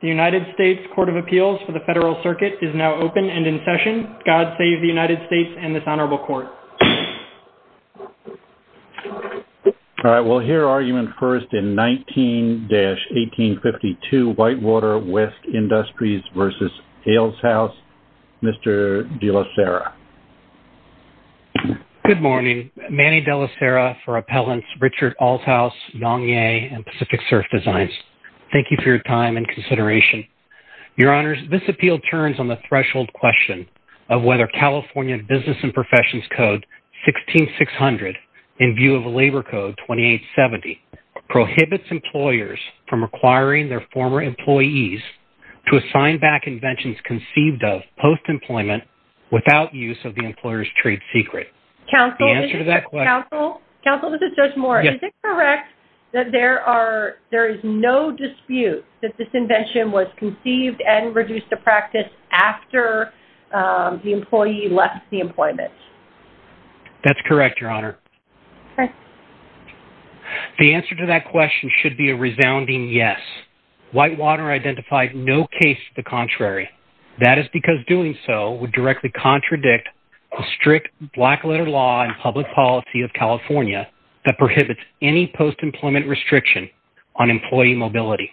The United States Court of Appeals for the Federal Circuit is now open and in session. God save the United States and this honorable court. All right, we'll hear argument first in 19-1852, Whitewater West Industries v. Alleshouse. Mr. de la Serra. Good morning. Manny de la Serra for Appellants Richard Alleshouse, Yong Ye and Pacific Surf Designs. Thank you for your time and consideration. Your honors, this appeal turns on the threshold question of whether California Business and Professions Code 16-600 in view of Labor Code 28-70 prohibits employers from requiring their former employees to assign back inventions conceived of post-employment without use of the employer's trade secret. Counsel, this is Judge Moore. Is it correct that there is no dispute that this invention was conceived and reduced to practice after the employee left the employment? That's correct, your honor. The answer to that question should be a resounding yes. Whitewater identified no case to the contrary. That is because doing so would directly contradict the strict black letter law and public policy of California that prohibits any post-employment restriction on employee mobility.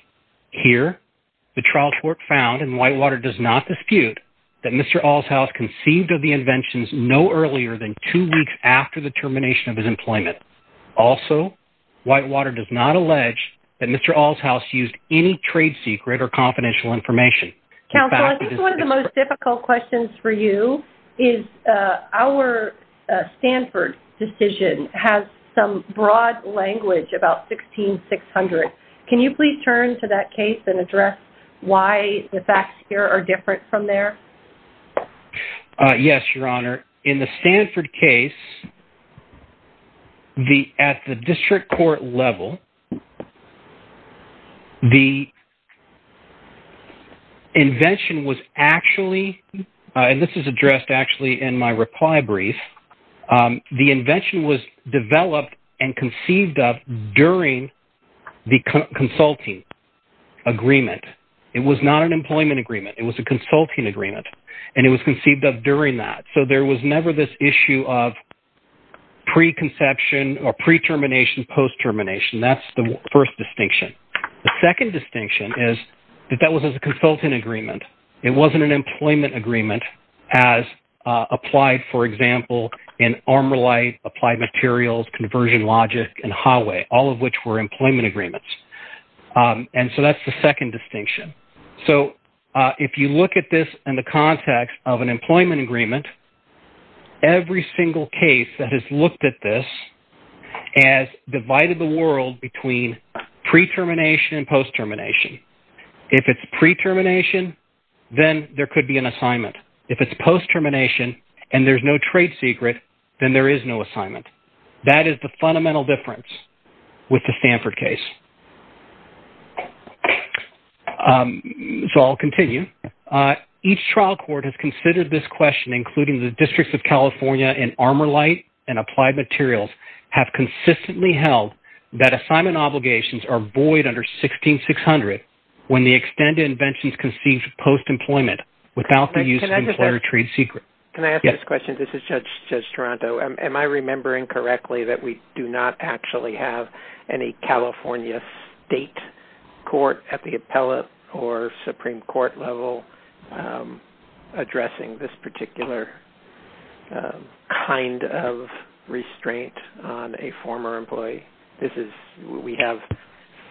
Here, the trial court found, and Whitewater does not dispute, that Mr. Alleshouse conceived of the inventions no earlier than two weeks after the termination of his employment. Also, Whitewater does not allege that Mr. Alleshouse used any trade secret or confidential information. Counsel, this is one of the most difficult questions for you. Our Stanford decision has some broad language about 16-600. Can you please turn to that case and address why the facts here are different from there? Yes, your honor. In the Stanford case, at the district court level, the invention was actually – and this is addressed actually in my reply brief. The invention was developed and conceived of during the consulting agreement. It was not an employment agreement. It was a consulting agreement. And it was conceived of during that. So, there was never this issue of preconception or pre-termination, post-termination. That's the first distinction. The second distinction is that that was a consulting agreement. It wasn't an employment agreement as applied, for example, in armor light, applied materials, conversion logic, and highway, all of which were employment agreements. And so, that's the second distinction. So, if you look at this in the context of an employment agreement, every single case that has looked at this has divided the world between pre-termination and post-termination. If it's pre-termination, then there could be an assignment. If it's post-termination and there's no trade secret, then there is no assignment. That is the fundamental difference with the Stanford case. So, I'll continue. Each trial court has considered this question, including the Districts of California in armor light and applied materials, have consistently held that assignment obligations are void under 16600 when the extended invention is conceived of post-employment without the use of employer trade secret. Can I ask this question? This is Judge Toronto. Am I remembering correctly that we do not actually have any California state court at the appellate or supreme court level addressing this particular kind of restraint on a former employee? We have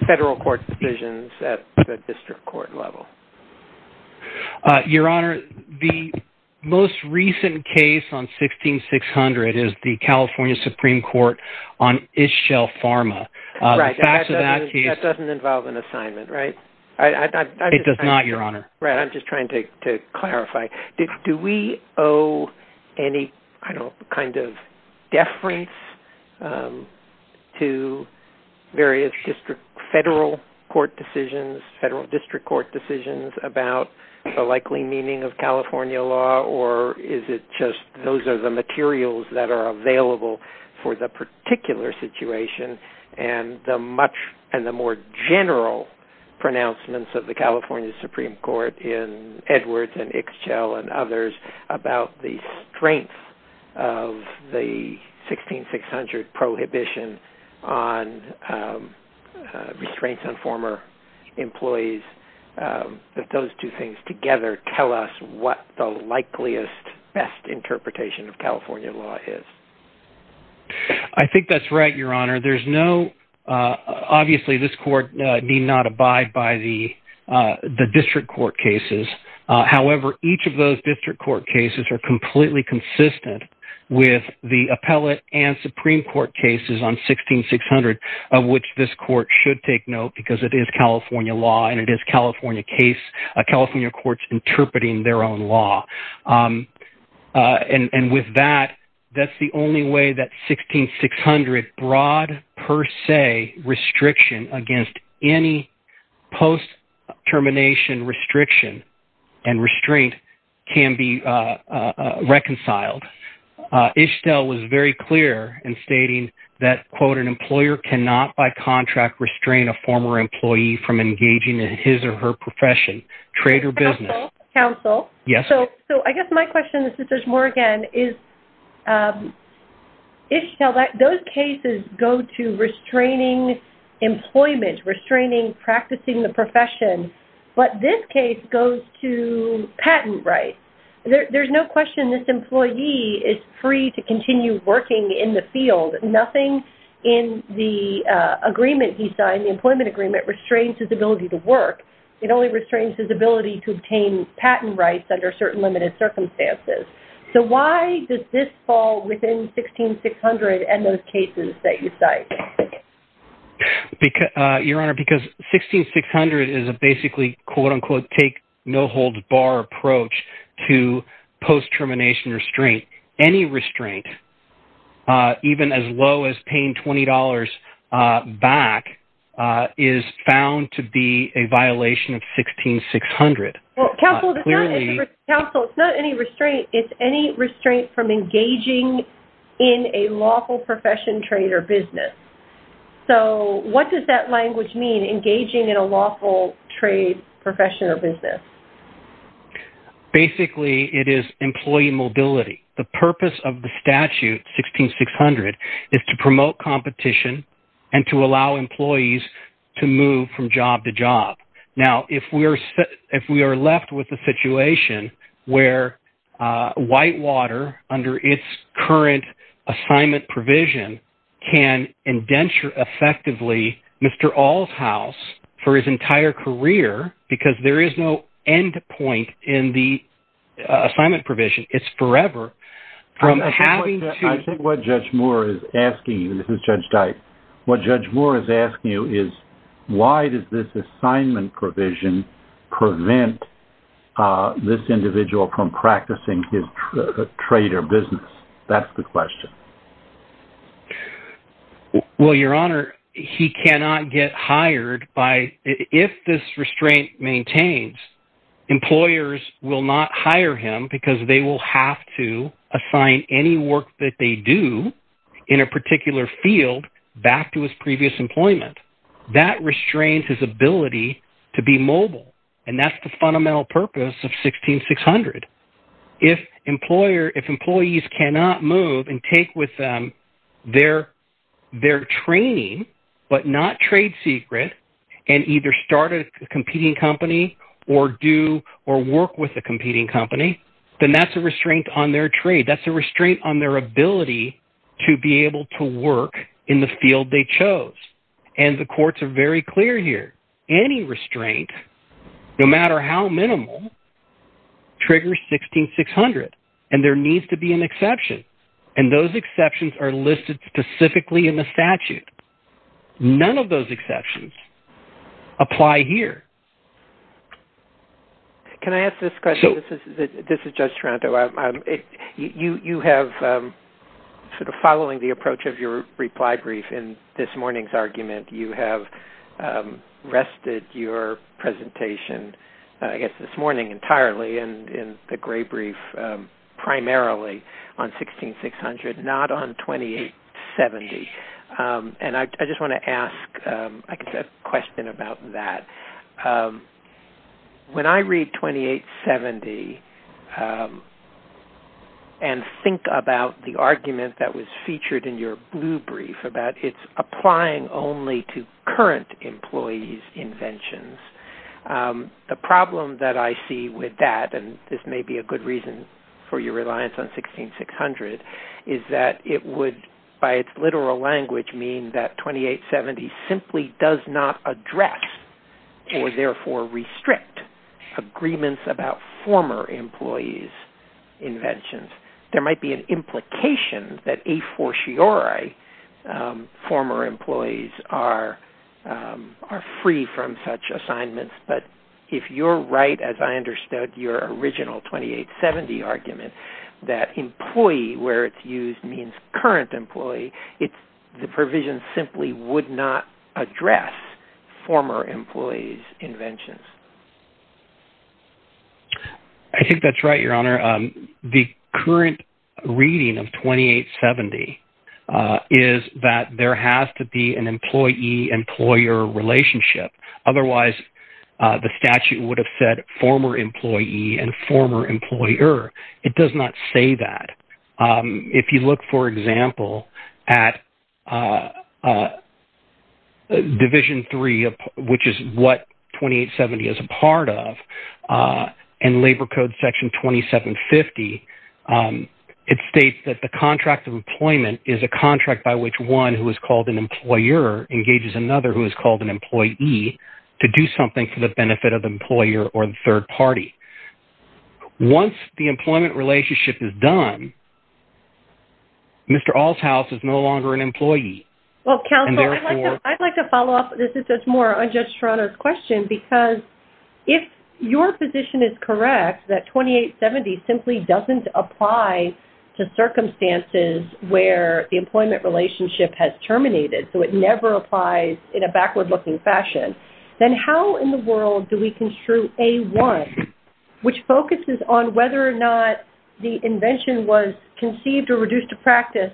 federal court decisions at the district court level. Your Honor, the most recent case on 16600 is the California Supreme Court on Ischel Pharma. That doesn't involve an assignment, right? It does not, Your Honor. Right. I'm just trying to clarify. Do we owe any kind of deference to various federal court decisions, federal district court decisions about the likely meaning of California law, or is it just those are the materials that are available for the particular situation and the much and the more general pronouncements of the California Supreme Court? In Edwards and Ischel and others about the strength of the 16600 prohibition on restraints on former employees, that those two things together tell us what the likeliest best interpretation of California law is. I think that's right, Your Honor. Obviously, this court need not abide by the district court cases. However, each of those district court cases are completely consistent with the appellate and supreme court cases on 16600 of which this court should take note because it is California law and it is California courts interpreting their own law. And with that, that's the only way that 16600 broad per se restriction against any post termination restriction and restraint can be reconciled. Ischel was very clear in stating that, quote, an employer cannot by contract restrain a former employee from engaging in his or her profession, trade or business. Counsel. Yes. So I guess my question is, if there's more again, is if those cases go to restraining employment, restraining practicing the profession, but this case goes to patent rights. There's no question this employee is free to continue working in the field. Nothing in the agreement he signed, the employment agreement restrains his ability to work. It only restrains his ability to obtain patent rights under certain limited circumstances. So why does this fall within 16600 and those cases that you cite? Your Honor, because 16600 is a basically, quote, unquote, take no holds bar approach to post termination restraint. Any restraint, even as low as paying $20 back, is found to be a violation of 16600. Counsel, it's not any restraint. It's any restraint from engaging in a lawful profession, trade or business. So what does that language mean, engaging in a lawful trade profession or business? Basically, it is employee mobility. The purpose of the statute, 16600, is to promote competition and to allow employees to move from job to job. Now, if we are left with a situation where Whitewater, under its current assignment provision, can indenture effectively Mr. All's house for his entire career, because there is no end point in the assignment provision, it's forever. I think what Judge Moore is asking you, and this is Judge Dyke, what Judge Moore is asking you is why does this assignment provision prevent this individual from practicing his trade or business? That's the question. Well, Your Honor, he cannot get hired by – if this restraint maintains, employers will not hire him because they will have to assign any work that they do in a particular field back to his previous employment. That restrains his ability to be mobile, and that's the fundamental purpose of 16600. If employees cannot move and take with them their training but not trade secret and either start a competing company or do or work with a competing company, then that's a restraint on their trade. That's a restraint on their ability to be able to work in the field they chose, and the courts are very clear here. Any restraint, no matter how minimal, triggers 16600, and there needs to be an exception, and those exceptions are listed specifically in the statute. None of those exceptions apply here. Can I ask this question? This is Judge Taranto. Following the approach of your reply brief in this morning's argument, you have rested your presentation, I guess, this morning entirely in the gray brief primarily on 16600, not on 2870. I just want to ask a question about that. When I read 2870 and think about the argument that was featured in your blue brief about its applying only to current employees' inventions, the problem that I see with that, and this may be a good reason for your reliance on 16600, is that it would, by its literal language, mean that 2870 simply does not address or therefore restrict agreements about former employees' inventions. There might be an implication that a fortiori former employees are free from such assignments, but if you're right, as I understood your original 2870 argument, that employee, where it's used, means current employee, the provision simply would not address former employees' inventions. I think that's right, Your Honor. The current reading of 2870 is that there has to be an employee-employer relationship. Otherwise, the statute would have said former employee and former employer. It does not say that. If you look, for example, at Division 3, which is what 2870 is a part of, and Labor Code Section 2750, it states that the contract of employment is a contract by which one who is called an employer engages another who is called an employee to do something for the benefit of the employer or the third party. Once the employment relationship is done, Mr. Allshouse is no longer an employee. Counsel, I'd like to follow up on this. It's more unjust for Honor's question because if your position is correct that 2870 simply doesn't apply to circumstances where the employment relationship has terminated, so it never applies in a backward-looking fashion, then how in the world do we construe A1, which focuses on whether or not the invention was conceived or reduced to practice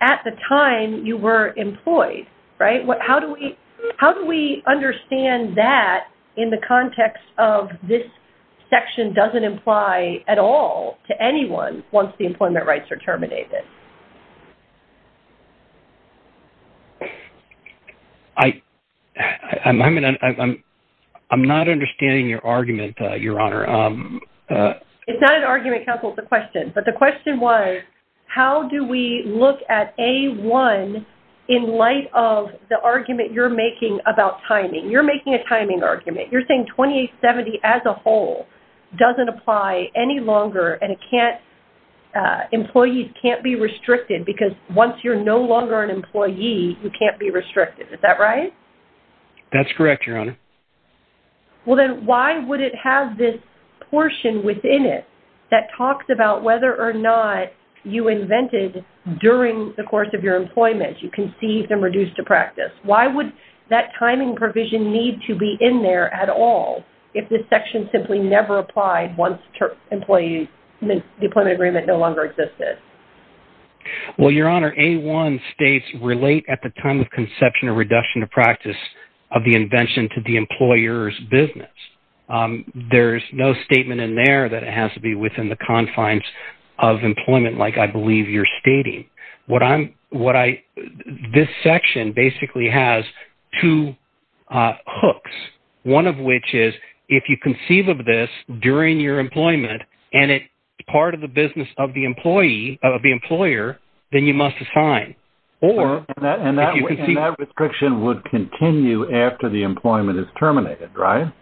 at the time you were employed, right? How do we understand that in the context of this section doesn't apply at all to anyone once the employment rights are terminated? I'm not understanding your argument, Your Honor. It's not an argument, Counsel. It's a question. But the question was, how do we look at A1 in light of the argument you're making about timing? You're making a timing argument. You're saying 2870 as a whole doesn't apply any longer, and employees can't be replaced. You can't be restricted because once you're no longer an employee, you can't be restricted. Is that right? That's correct, Your Honor. Well, then why would it have this portion within it that talks about whether or not you invented during the course of your employment? You conceived and reduced to practice. Why would that timing provision need to be in there at all if this section simply never applied once the employment agreement no longer existed? Well, Your Honor, A1 states relate at the time of conception or reduction to practice of the invention to the employer's business. There's no statement in there that it has to be within the confines of employment like I believe you're stating. This section basically has two hooks, one of which is if you conceive of this during your employment and it's part of the business of the employer, then you must assign. And that restriction would continue after the employment is terminated, right?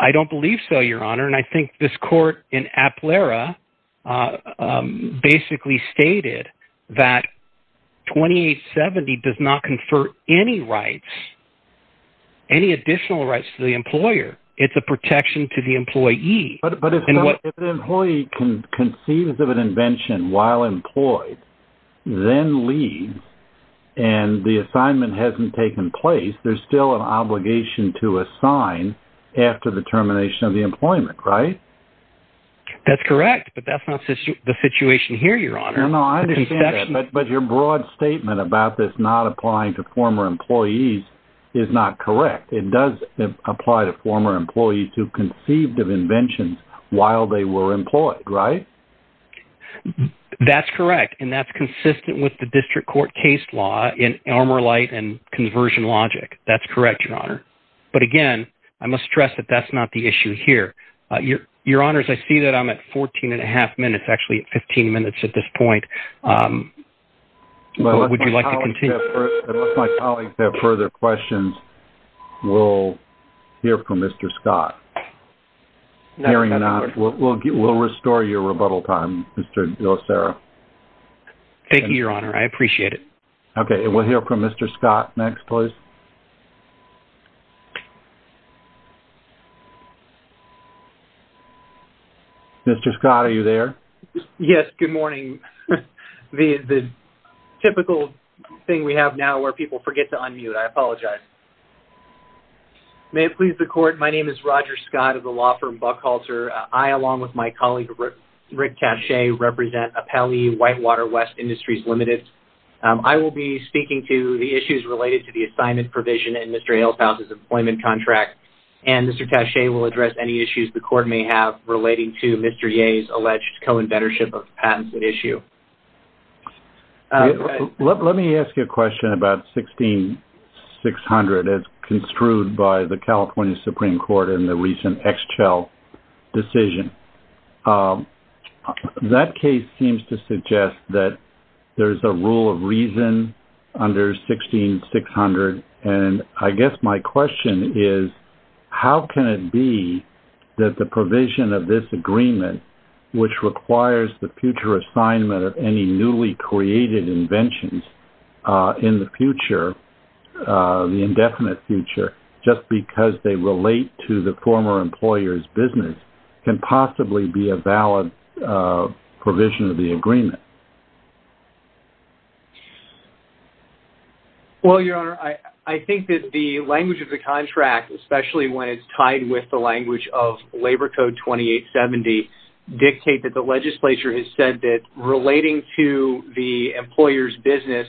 I don't believe so, Your Honor, and I think this court in Aplera basically stated that 2870 does not confer any rights, any additional rights to the employer. It's a protection to the employee. But if an employee conceives of an invention while employed, then leaves and the assignment hasn't taken place, there's still an obligation to assign after the termination of the employment, right? That's correct, but that's not the situation here, Your Honor. No, I understand that, but your broad statement about this not applying to former employees is not correct. It does apply to former employees who conceived of inventions while they were employed, right? That's correct, and that's consistent with the district court case law in Elmer Light and conversion logic. That's correct, Your Honor. But again, I must stress that that's not the issue here. Your Honors, I see that I'm at 14 and a half minutes, actually at 15 minutes at this point. Would you like to continue? If my colleagues have further questions, we'll hear from Mr. Scott. We'll restore your rebuttal time, Mr. Yosera. Thank you, Your Honor, I appreciate it. Okay, we'll hear from Mr. Scott next, please. Mr. Scott, are you there? Yes, good morning. The typical thing we have now where people forget to unmute. I apologize. May it please the court, my name is Roger Scott of the law firm Buckhalter. I, along with my colleague, Rick Cache, represent Apelli Whitewater West Industries Limited. I will be speaking to the issues related to the assignment provision in Mr. Alefant's employment contract, and Mr. Cache will address any issues the court may have relating to Mr. Yeh's alleged co-inventorship of patents at issue. Let me ask you a question about 16-600 as construed by the California Supreme Court in the recent Exchel decision. That case seems to suggest that there is a rule of reason under 16-600, and I guess my question is how can it be that the provision of this agreement, which requires the future assignment of any newly created inventions in the future, the indefinite future, just because they relate to the former employer's business, can possibly be a valid provision of the agreement? Well, Your Honor, I think that the language of the contract, especially when it's tied with the language of Labor Code 2870, may dictate that the legislature has said that relating to the employer's business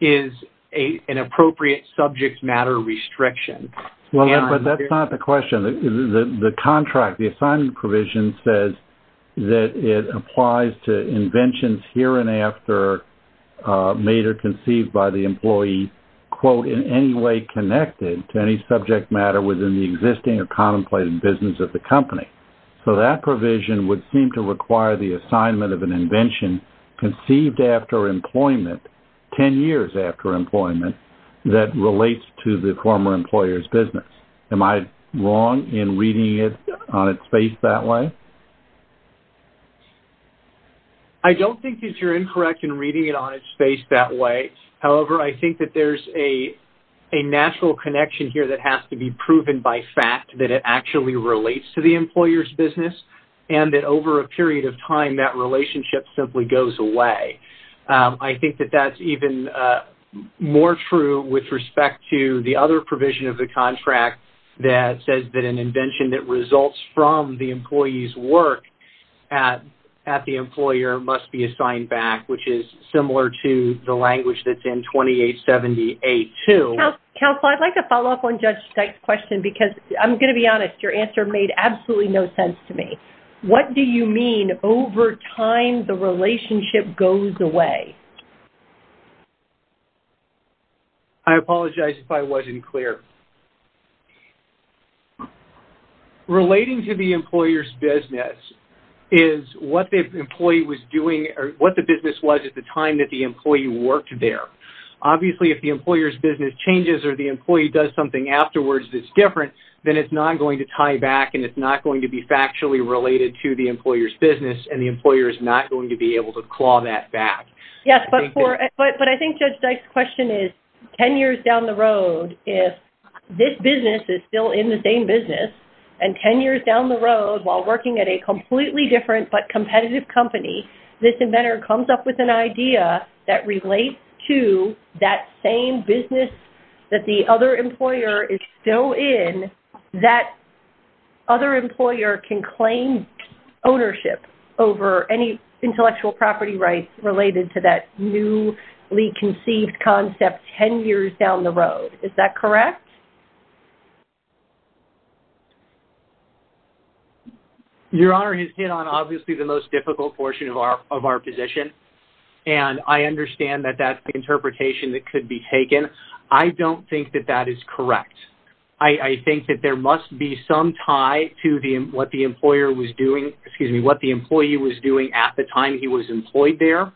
is an appropriate subject matter restriction. Well, but that's not the question. The contract, the assignment provision, says that it applies to inventions here and after made or conceived by the employee, quote, in any way connected to any subject matter within the existing or contemplated business of the company. So that provision would seem to require the assignment of an invention conceived after employment, 10 years after employment, that relates to the former employer's business. Am I wrong in reading it on its face that way? I don't think that you're incorrect in reading it on its face that way. However, I think that there's a natural connection here that has to be proven by fact, that it actually relates to the employer's business, and that over a period of time, that relationship simply goes away. I think that that's even more true with respect to the other provision of the contract that says that an invention that results from the employee's work at the employer must be assigned back, which is similar to the language that's in 2878-2. Counselor, I'd like to follow up on Judge Stike's question because I'm going to be honest. Your answer made absolutely no sense to me. What do you mean over time the relationship goes away? I apologize if I wasn't clear. Relating to the employer's business is what the employee was doing or what the business was at the time that the employee worked there. Obviously, if the employer's business changes or the employee does something afterwards that's different, then it's not going to tie back and it's not going to be factually related to the employer's business, and the employer is not going to be able to claw that back. Yes, but I think Judge Stike's question is, 10 years down the road, if this business is still in the same business, and 10 years down the road while working at a completely different but competitive company, this inventor comes up with an idea that relates to that same business that the other employer is still in, that other employer can claim ownership over any intellectual property rights related to that newly conceived concept 10 years down the road. Is that correct? Your Honor, he's hit on obviously the most difficult portion of our position, and I understand that that's the interpretation that could be taken. I don't think that that is correct. I think that there must be some tie to what the employer was doing, excuse me, what the employee was doing at the time he was employed there,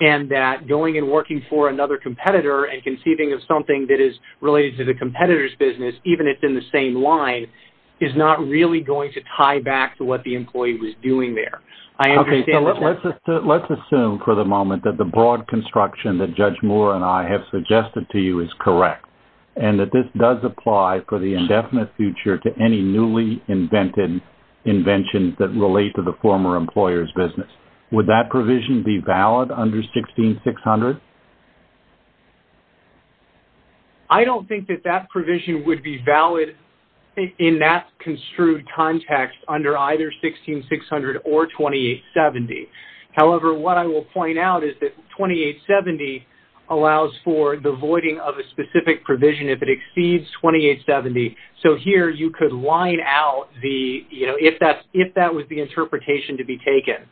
and that going and working for another competitor and conceiving of something that is related to the competitor's business, even if it's in the same line, is not really going to tie back to what the employee was doing there. Okay, so let's assume for the moment that the broad construction that Judge Moore and I have suggested to you is correct, and that this does apply for the indefinite future to any newly invented inventions that relate to the former employer's business. Would that provision be valid under 16-600? I don't think that that provision would be valid in that construed context under either 16-600 or 28-70. However, what I will point out is that 28-70 allows for the voiding of a specific provision if it exceeds 28-70. So here you could line out the, you know, if that was the interpretation to be taken,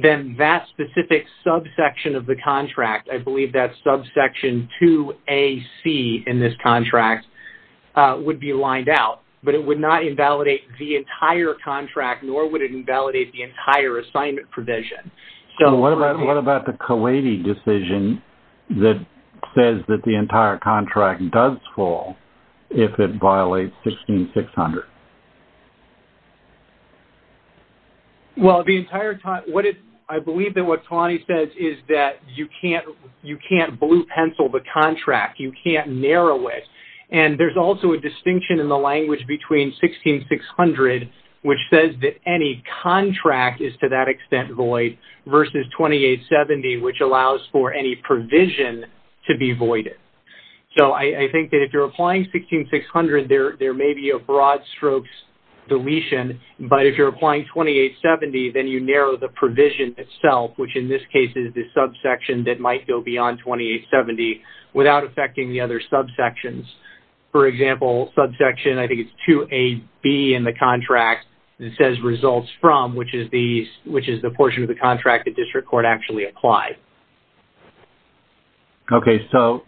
then that specific subsection of the contract, I believe that's subsection 2AC in this contract, would be lined out. But it would not invalidate the entire contract, nor would it invalidate the entire assignment provision. So what about the Coady decision that says that the entire contract does fall if it violates 16-600? Well, I believe that what Tawani says is that you can't blue pencil the contract. You can't narrow it. And there's also a distinction in the language between 16-600, which says that any contract is to that extent void, versus 28-70, which allows for any provision to be voided. So I think that if you're applying 16-600, there may be a broad strokes deletion. But if you're applying 28-70, then you narrow the provision itself, which in this case is the subsection that might go beyond 28-70, without affecting the other subsections. For example, subsection, I think it's 2AB in the contract, that says results from, which is the portion of the contract the district court actually applied. Okay. So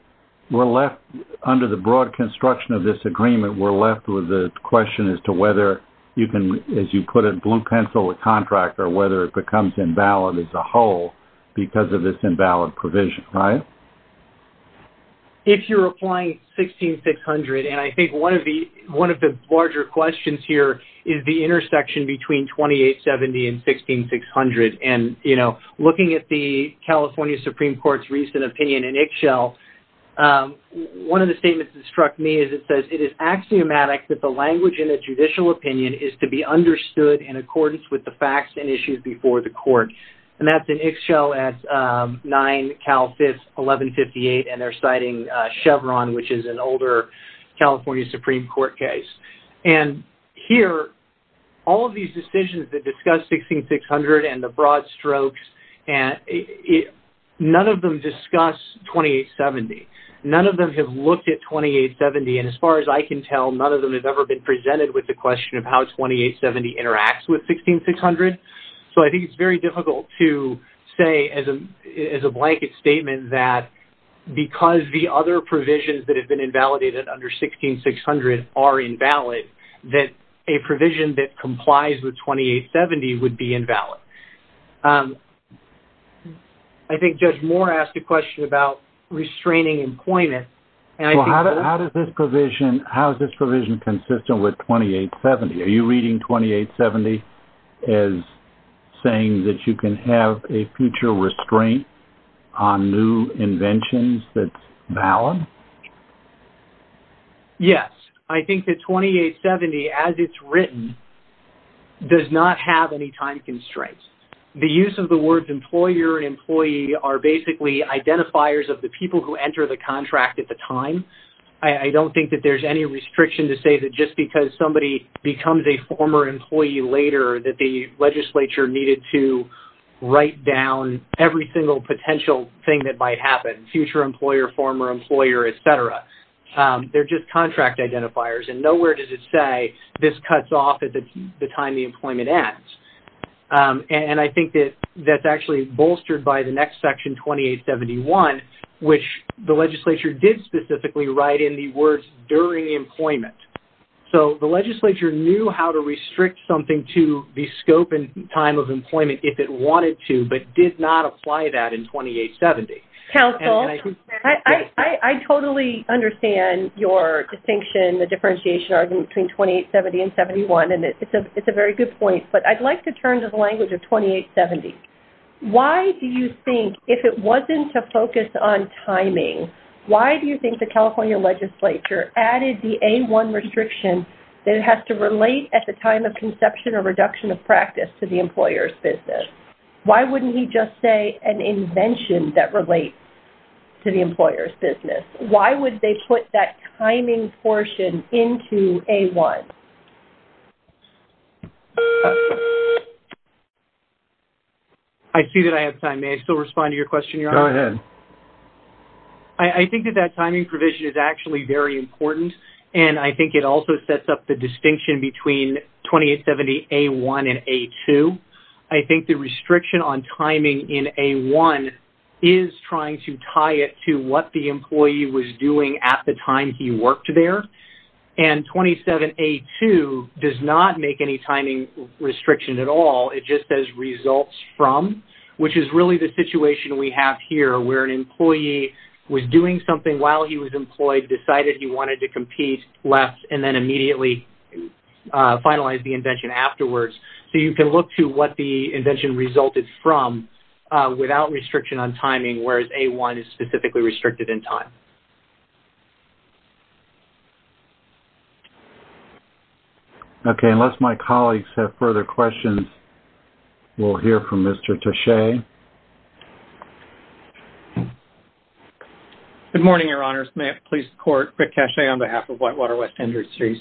we're left, under the broad construction of this agreement, we're left with the question as to whether you can, as you put it, blue pencil a contract or whether it becomes invalid as a whole because of this invalid provision, right? If you're applying 16-600, and I think one of the larger questions here is the intersection between 28-70 and 16-600. And, you know, looking at the California Supreme Court's recent opinion in Ixchel, one of the statements that struck me is it says, that the language in a judicial opinion is to be understood in accordance with the facts and issues before the court. And that's in Ixchel at 9 Cal 5, 1158. And they're citing Chevron, which is an older California Supreme Court case. And here, all of these decisions that discuss 16-600 and the broad strokes, none of them discuss 28-70. None of them have looked at 28-70. And as far as I can tell, none of them have ever been presented with the question of how 28-70 interacts with 16-600. So I think it's very difficult to say, as a blanket statement, that because the other provisions that have been invalidated under 16-600 are invalid, that a provision that complies with 28-70 would be invalid. I think Judge Moore asked a question about restraining employment. How is this provision consistent with 28-70? Are you reading 28-70 as saying that you can have a future restraint on new inventions that's valid? Yes. I think that 28-70, as it's written, does not have any time constraints. The use of the words employer and employee are basically identifiers of the people who enter the contract at the time. I don't think that there's any restriction to say that just because somebody becomes a former employee later that the legislature needed to write down every single potential thing that might happen, future employer, former employer, et cetera. They're just contract identifiers. And nowhere does it say this cuts off at the time the employment ends. And I think that that's actually bolstered by the next section, 28-71, which the legislature did specifically write in the words during employment. So the legislature knew how to restrict something to the scope and time of employment if it wanted to, but did not apply that in 28-70. Counsel, I totally understand your distinction, the differentiation argument between 28-70 and 71, and it's a very good point, but I'd like to turn to the language of 28-70. Why do you think, if it wasn't to focus on timing, why do you think the California legislature added the A-1 restriction that it has to relate at the time of conception or reduction of practice to the employer's business? Why wouldn't he just say an invention that relates to the employer's business? Why would they put that timing portion into A-1? I see that I have time. May I still respond to your question, Your Honor? Go ahead. I think that that timing provision is actually very important, and I think it also sets up the distinction between 28-70, A-1, and A-2. I think the restriction on timing in A-1 is trying to tie it to what the employee was doing at the time he worked there, and 27-A-2 does not make any timing restriction at all. It just says results from, which is really the situation we have here, where an employee was doing something while he was employed, decided he wanted to compete, left, and then immediately finalized the invention afterwards. So you can look to what the invention resulted from without restriction on timing, whereas A-1 is specifically restricted in time. Okay. Unless my colleagues have further questions, we'll hear from Mr. Taché. Good morning, Your Honors. May it please the Court, Rick Taché on behalf of Whitewater West Industries.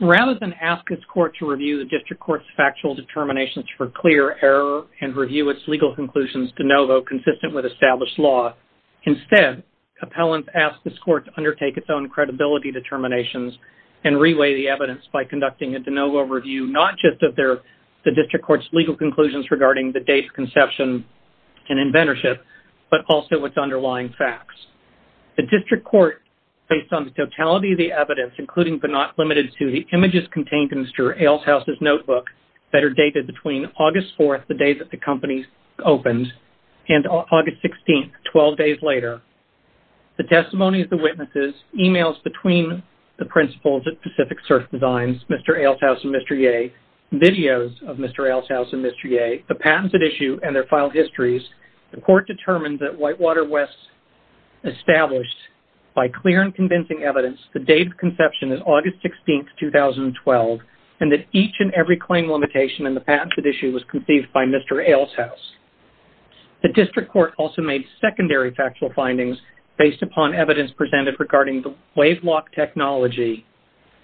Rather than ask this Court to review the District Court's factual determinations for clear error and review its legal conclusions de novo consistent with established law, instead, appellants ask this Court to undertake its own credibility determinations and reweigh the evidence by conducting a de novo review, not just of the District Court's legal conclusions regarding the date of conception and inventorship, but also its underlying facts. The District Court, based on the totality of the evidence, including but not limited to the images contained in Mr. Eilshaus' notebook that are dated between August 4th, the day that the company opened, and August 16th, 12 days later, the testimony of the witnesses, emails between the principals at Pacific Surf Designs, Mr. Eilshaus and Mr. Yeh, videos of Mr. Eilshaus and Mr. Yeh, the patents at issue, and their file histories, the Court determined that Whitewater West established, by clear and convincing evidence, the date of conception as August 16th, 2012, and that each and every claim limitation in the patents at issue was conceived by Mr. Eilshaus. The District Court also made secondary factual findings based upon evidence presented regarding the WaveLock technology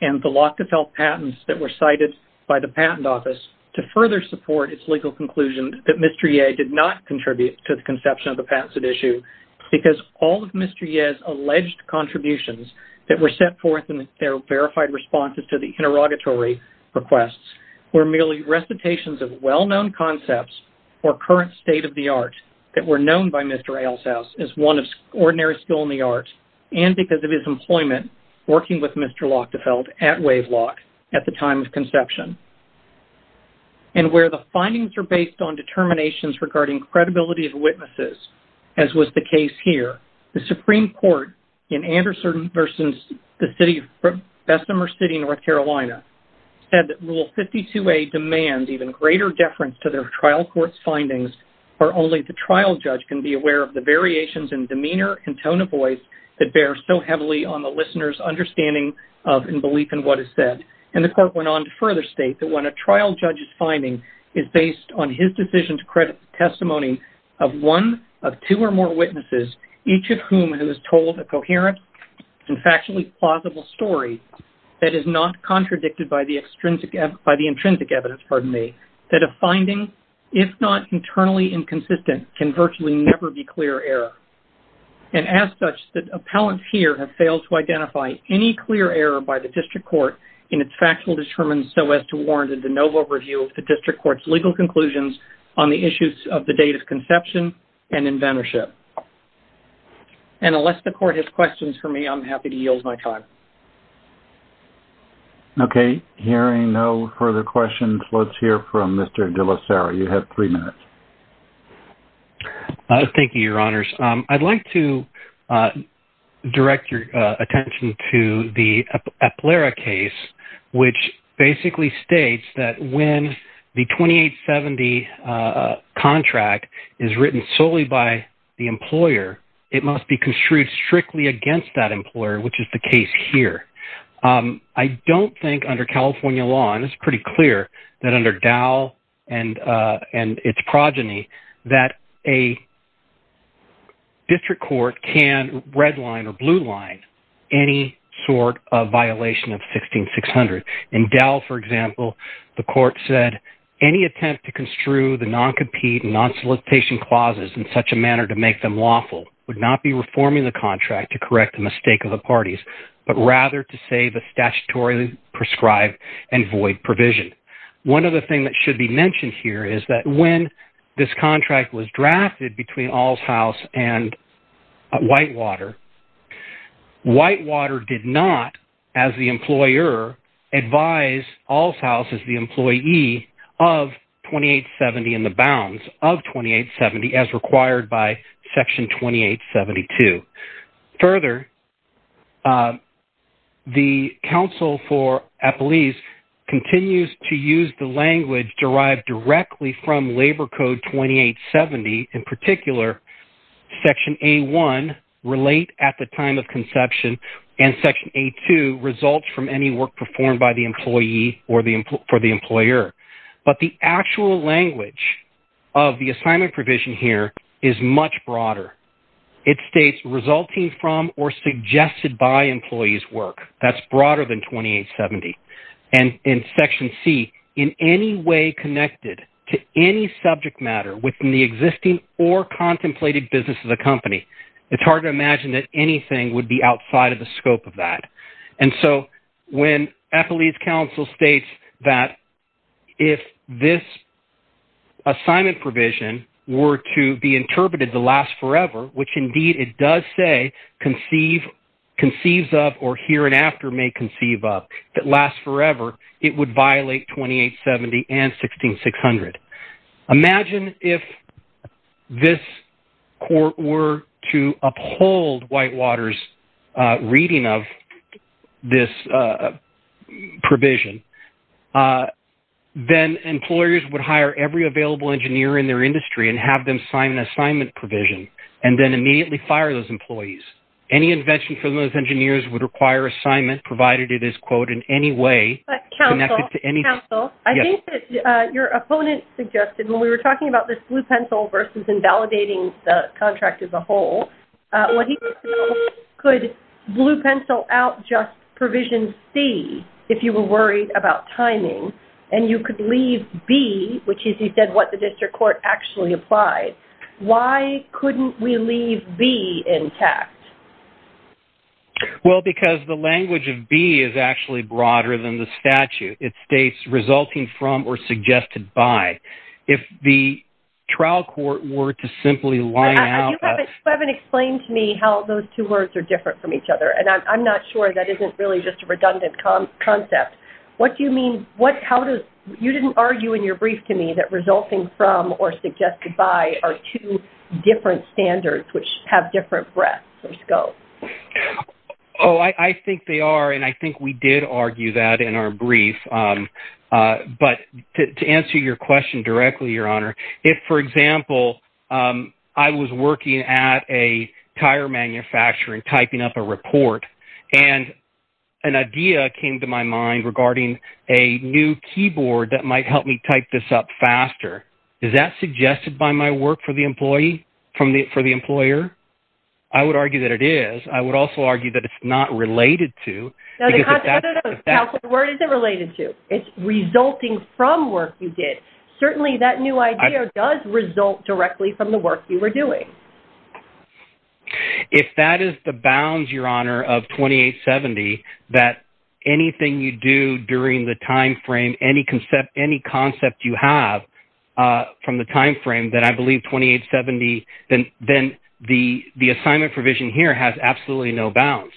and the Lockithelf patents that were cited by the Patent Office to further support its legal conclusion that Mr. Yeh did not contribute to the conception of the patents at issue because all of Mr. Yeh's alleged contributions that were set forth in their verified responses to the interrogatory requests were merely recitations of well-known concepts or current state-of-the-art that were known by Mr. Eilshaus as one of ordinary skill in the arts and because of his employment working with Mr. Lockithelf at WaveLock at the time of conception. And where the findings are based on determinations regarding credibility of witnesses, as was the case here, the Supreme Court in Anderson v. Bessemer City in North Carolina said that Rule 52A demands even greater deference to their trial court's findings for only the trial judge can be aware of the variations in demeanor and tone of voice that bear so heavily on the listener's understanding of and belief in what is said. And the court went on to further state that when a trial judge's finding is based on his decision to credit the testimony of one of two or more witnesses, each of whom has told a coherent and factually plausible story that is not contradicted by the intrinsic evidence, that a finding, if not internally inconsistent, can virtually never be clear error. And as such, the appellants here have failed to identify any clear error by the district court in its factual determinants so as to warrant a de novo review of the district court's legal conclusions on the issues of the date of conception and inventorship. And unless the court has questions for me, I'm happy to yield my time. Okay. Hearing no further questions, let's hear from Mr. De La Sera. You have three minutes. Thank you, Your Honors. I'd like to direct your attention to the EPLERA case, which basically states that when the 2870 contract is written solely by the employer, it must be construed strictly against that employer, which is the case here. I don't think under California law, and it's pretty clear that under Dow and its progeny, that a district court can redline or blue line any sort of violation of 16600. In Dow, for example, the court said, any attempt to construe the non-compete and non-solicitation clauses in such a manner to make them lawful would not be reforming the contract to correct the mistake of the parties, but rather to save a statutorily prescribed and void provision. One other thing that should be mentioned here is that when this contract was drafted between Alls House and Whitewater, Whitewater did not, as the employer, advise Alls House as the employee of 2870 and the bounds of 2870 as required by Section 2872. Further, the counsel for Eppley's continues to use the language derived directly from Labor Code 2870. In particular, Section A1, relate at the time of conception, and Section A2, results from any work performed by the employee or for the employer. But the actual language of the assignment provision here is much broader. It states, resulting from or suggested by employees' work. That's broader than 2870. And in Section C, in any way connected to any subject matter within the existing or contemplated business of the company. It's hard to imagine that anything would be outside of the scope of that. And so when Eppley's counsel states that if this assignment provision were to be interpreted to last forever, which indeed it does say conceives of or here and after may conceive of, that lasts forever, it would violate 2870 and 16600. Imagine if this court were to uphold Whitewater's reading of this provision. Then employers would hire every available engineer in their industry and have them sign an assignment provision, and then immediately fire those employees. Any invention from those engineers would require assignment, provided it is, quote, in any way connected to anything. Counsel, I think that your opponent suggested, when we were talking about this blue pencil versus invalidating the contract as a whole, could blue pencil out just provision C, if you were worried about timing, and you could leave B, which is, he said, what the district court actually applied. Why couldn't we leave B intact? Well, because the language of B is actually broader than the statute. It states resulting from or suggested by. If the trial court were to simply line out- You haven't explained to me how those two words are different from each other, and I'm not sure that isn't really just a redundant concept. What do you mean? You didn't argue in your brief to me that resulting from or suggested by are two different standards which have different breadth or scope. Oh, I think they are, and I think we did argue that in our brief. But to answer your question directly, Your Honor, if, for example, I was working at a tire manufacturer and typing up a report, and an idea came to my mind regarding a new keyboard that might help me type this up faster, is that suggested by my work for the employer? I would argue that it is. I would also argue that it's not related to. Where is it related to? It's resulting from work you did. Certainly that new idea does result directly from the work you were doing. If that is the bounds, Your Honor, of 2870, that anything you do during the time frame, any concept you have from the time frame that I believe 2870, then the assignment provision here has absolutely no bounds,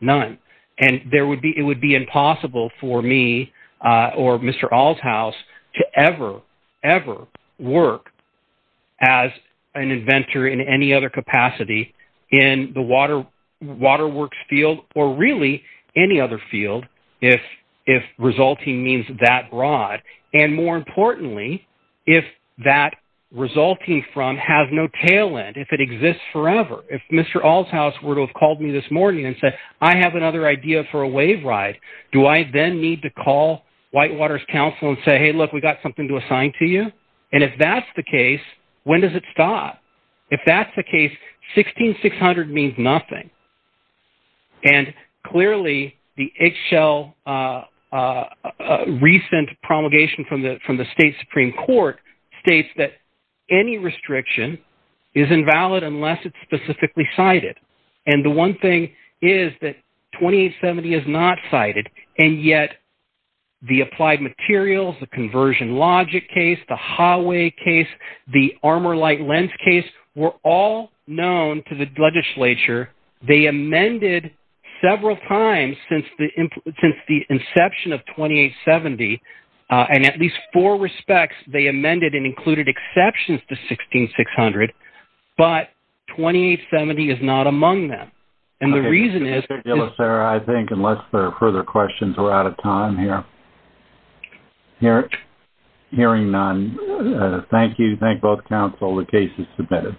none. And it would be impossible for me or Mr. Altshaus to ever, ever work as an inventor in any other capacity in the waterworks field or really any other field if resulting means that broad. And more importantly, if that resulting from has no tail end, if it exists forever, if Mr. Altshaus were to have called me this morning and said, I have another idea for a wave ride, do I then need to call Whitewater's counsel and say, hey, look, we've got something to assign to you? And if that's the case, when does it stop? If that's the case, 16600 means nothing. And clearly the eggshell recent promulgation from the State Supreme Court states that any restriction is invalid unless it's specifically cited. And the one thing is that 2870 is not cited, and yet the applied materials, the conversion logic case, the hallway case, the armor light lens case, were all known to the legislature. They amended several times since the inception of 2870, and at least four respects they amended and included exceptions to 16600. But 2870 is not among them. And the reason is- Mr. De La Sera, I think unless there are further questions, we're out of time here. Hearing none, thank you. Thank both counsel. The case is submitted.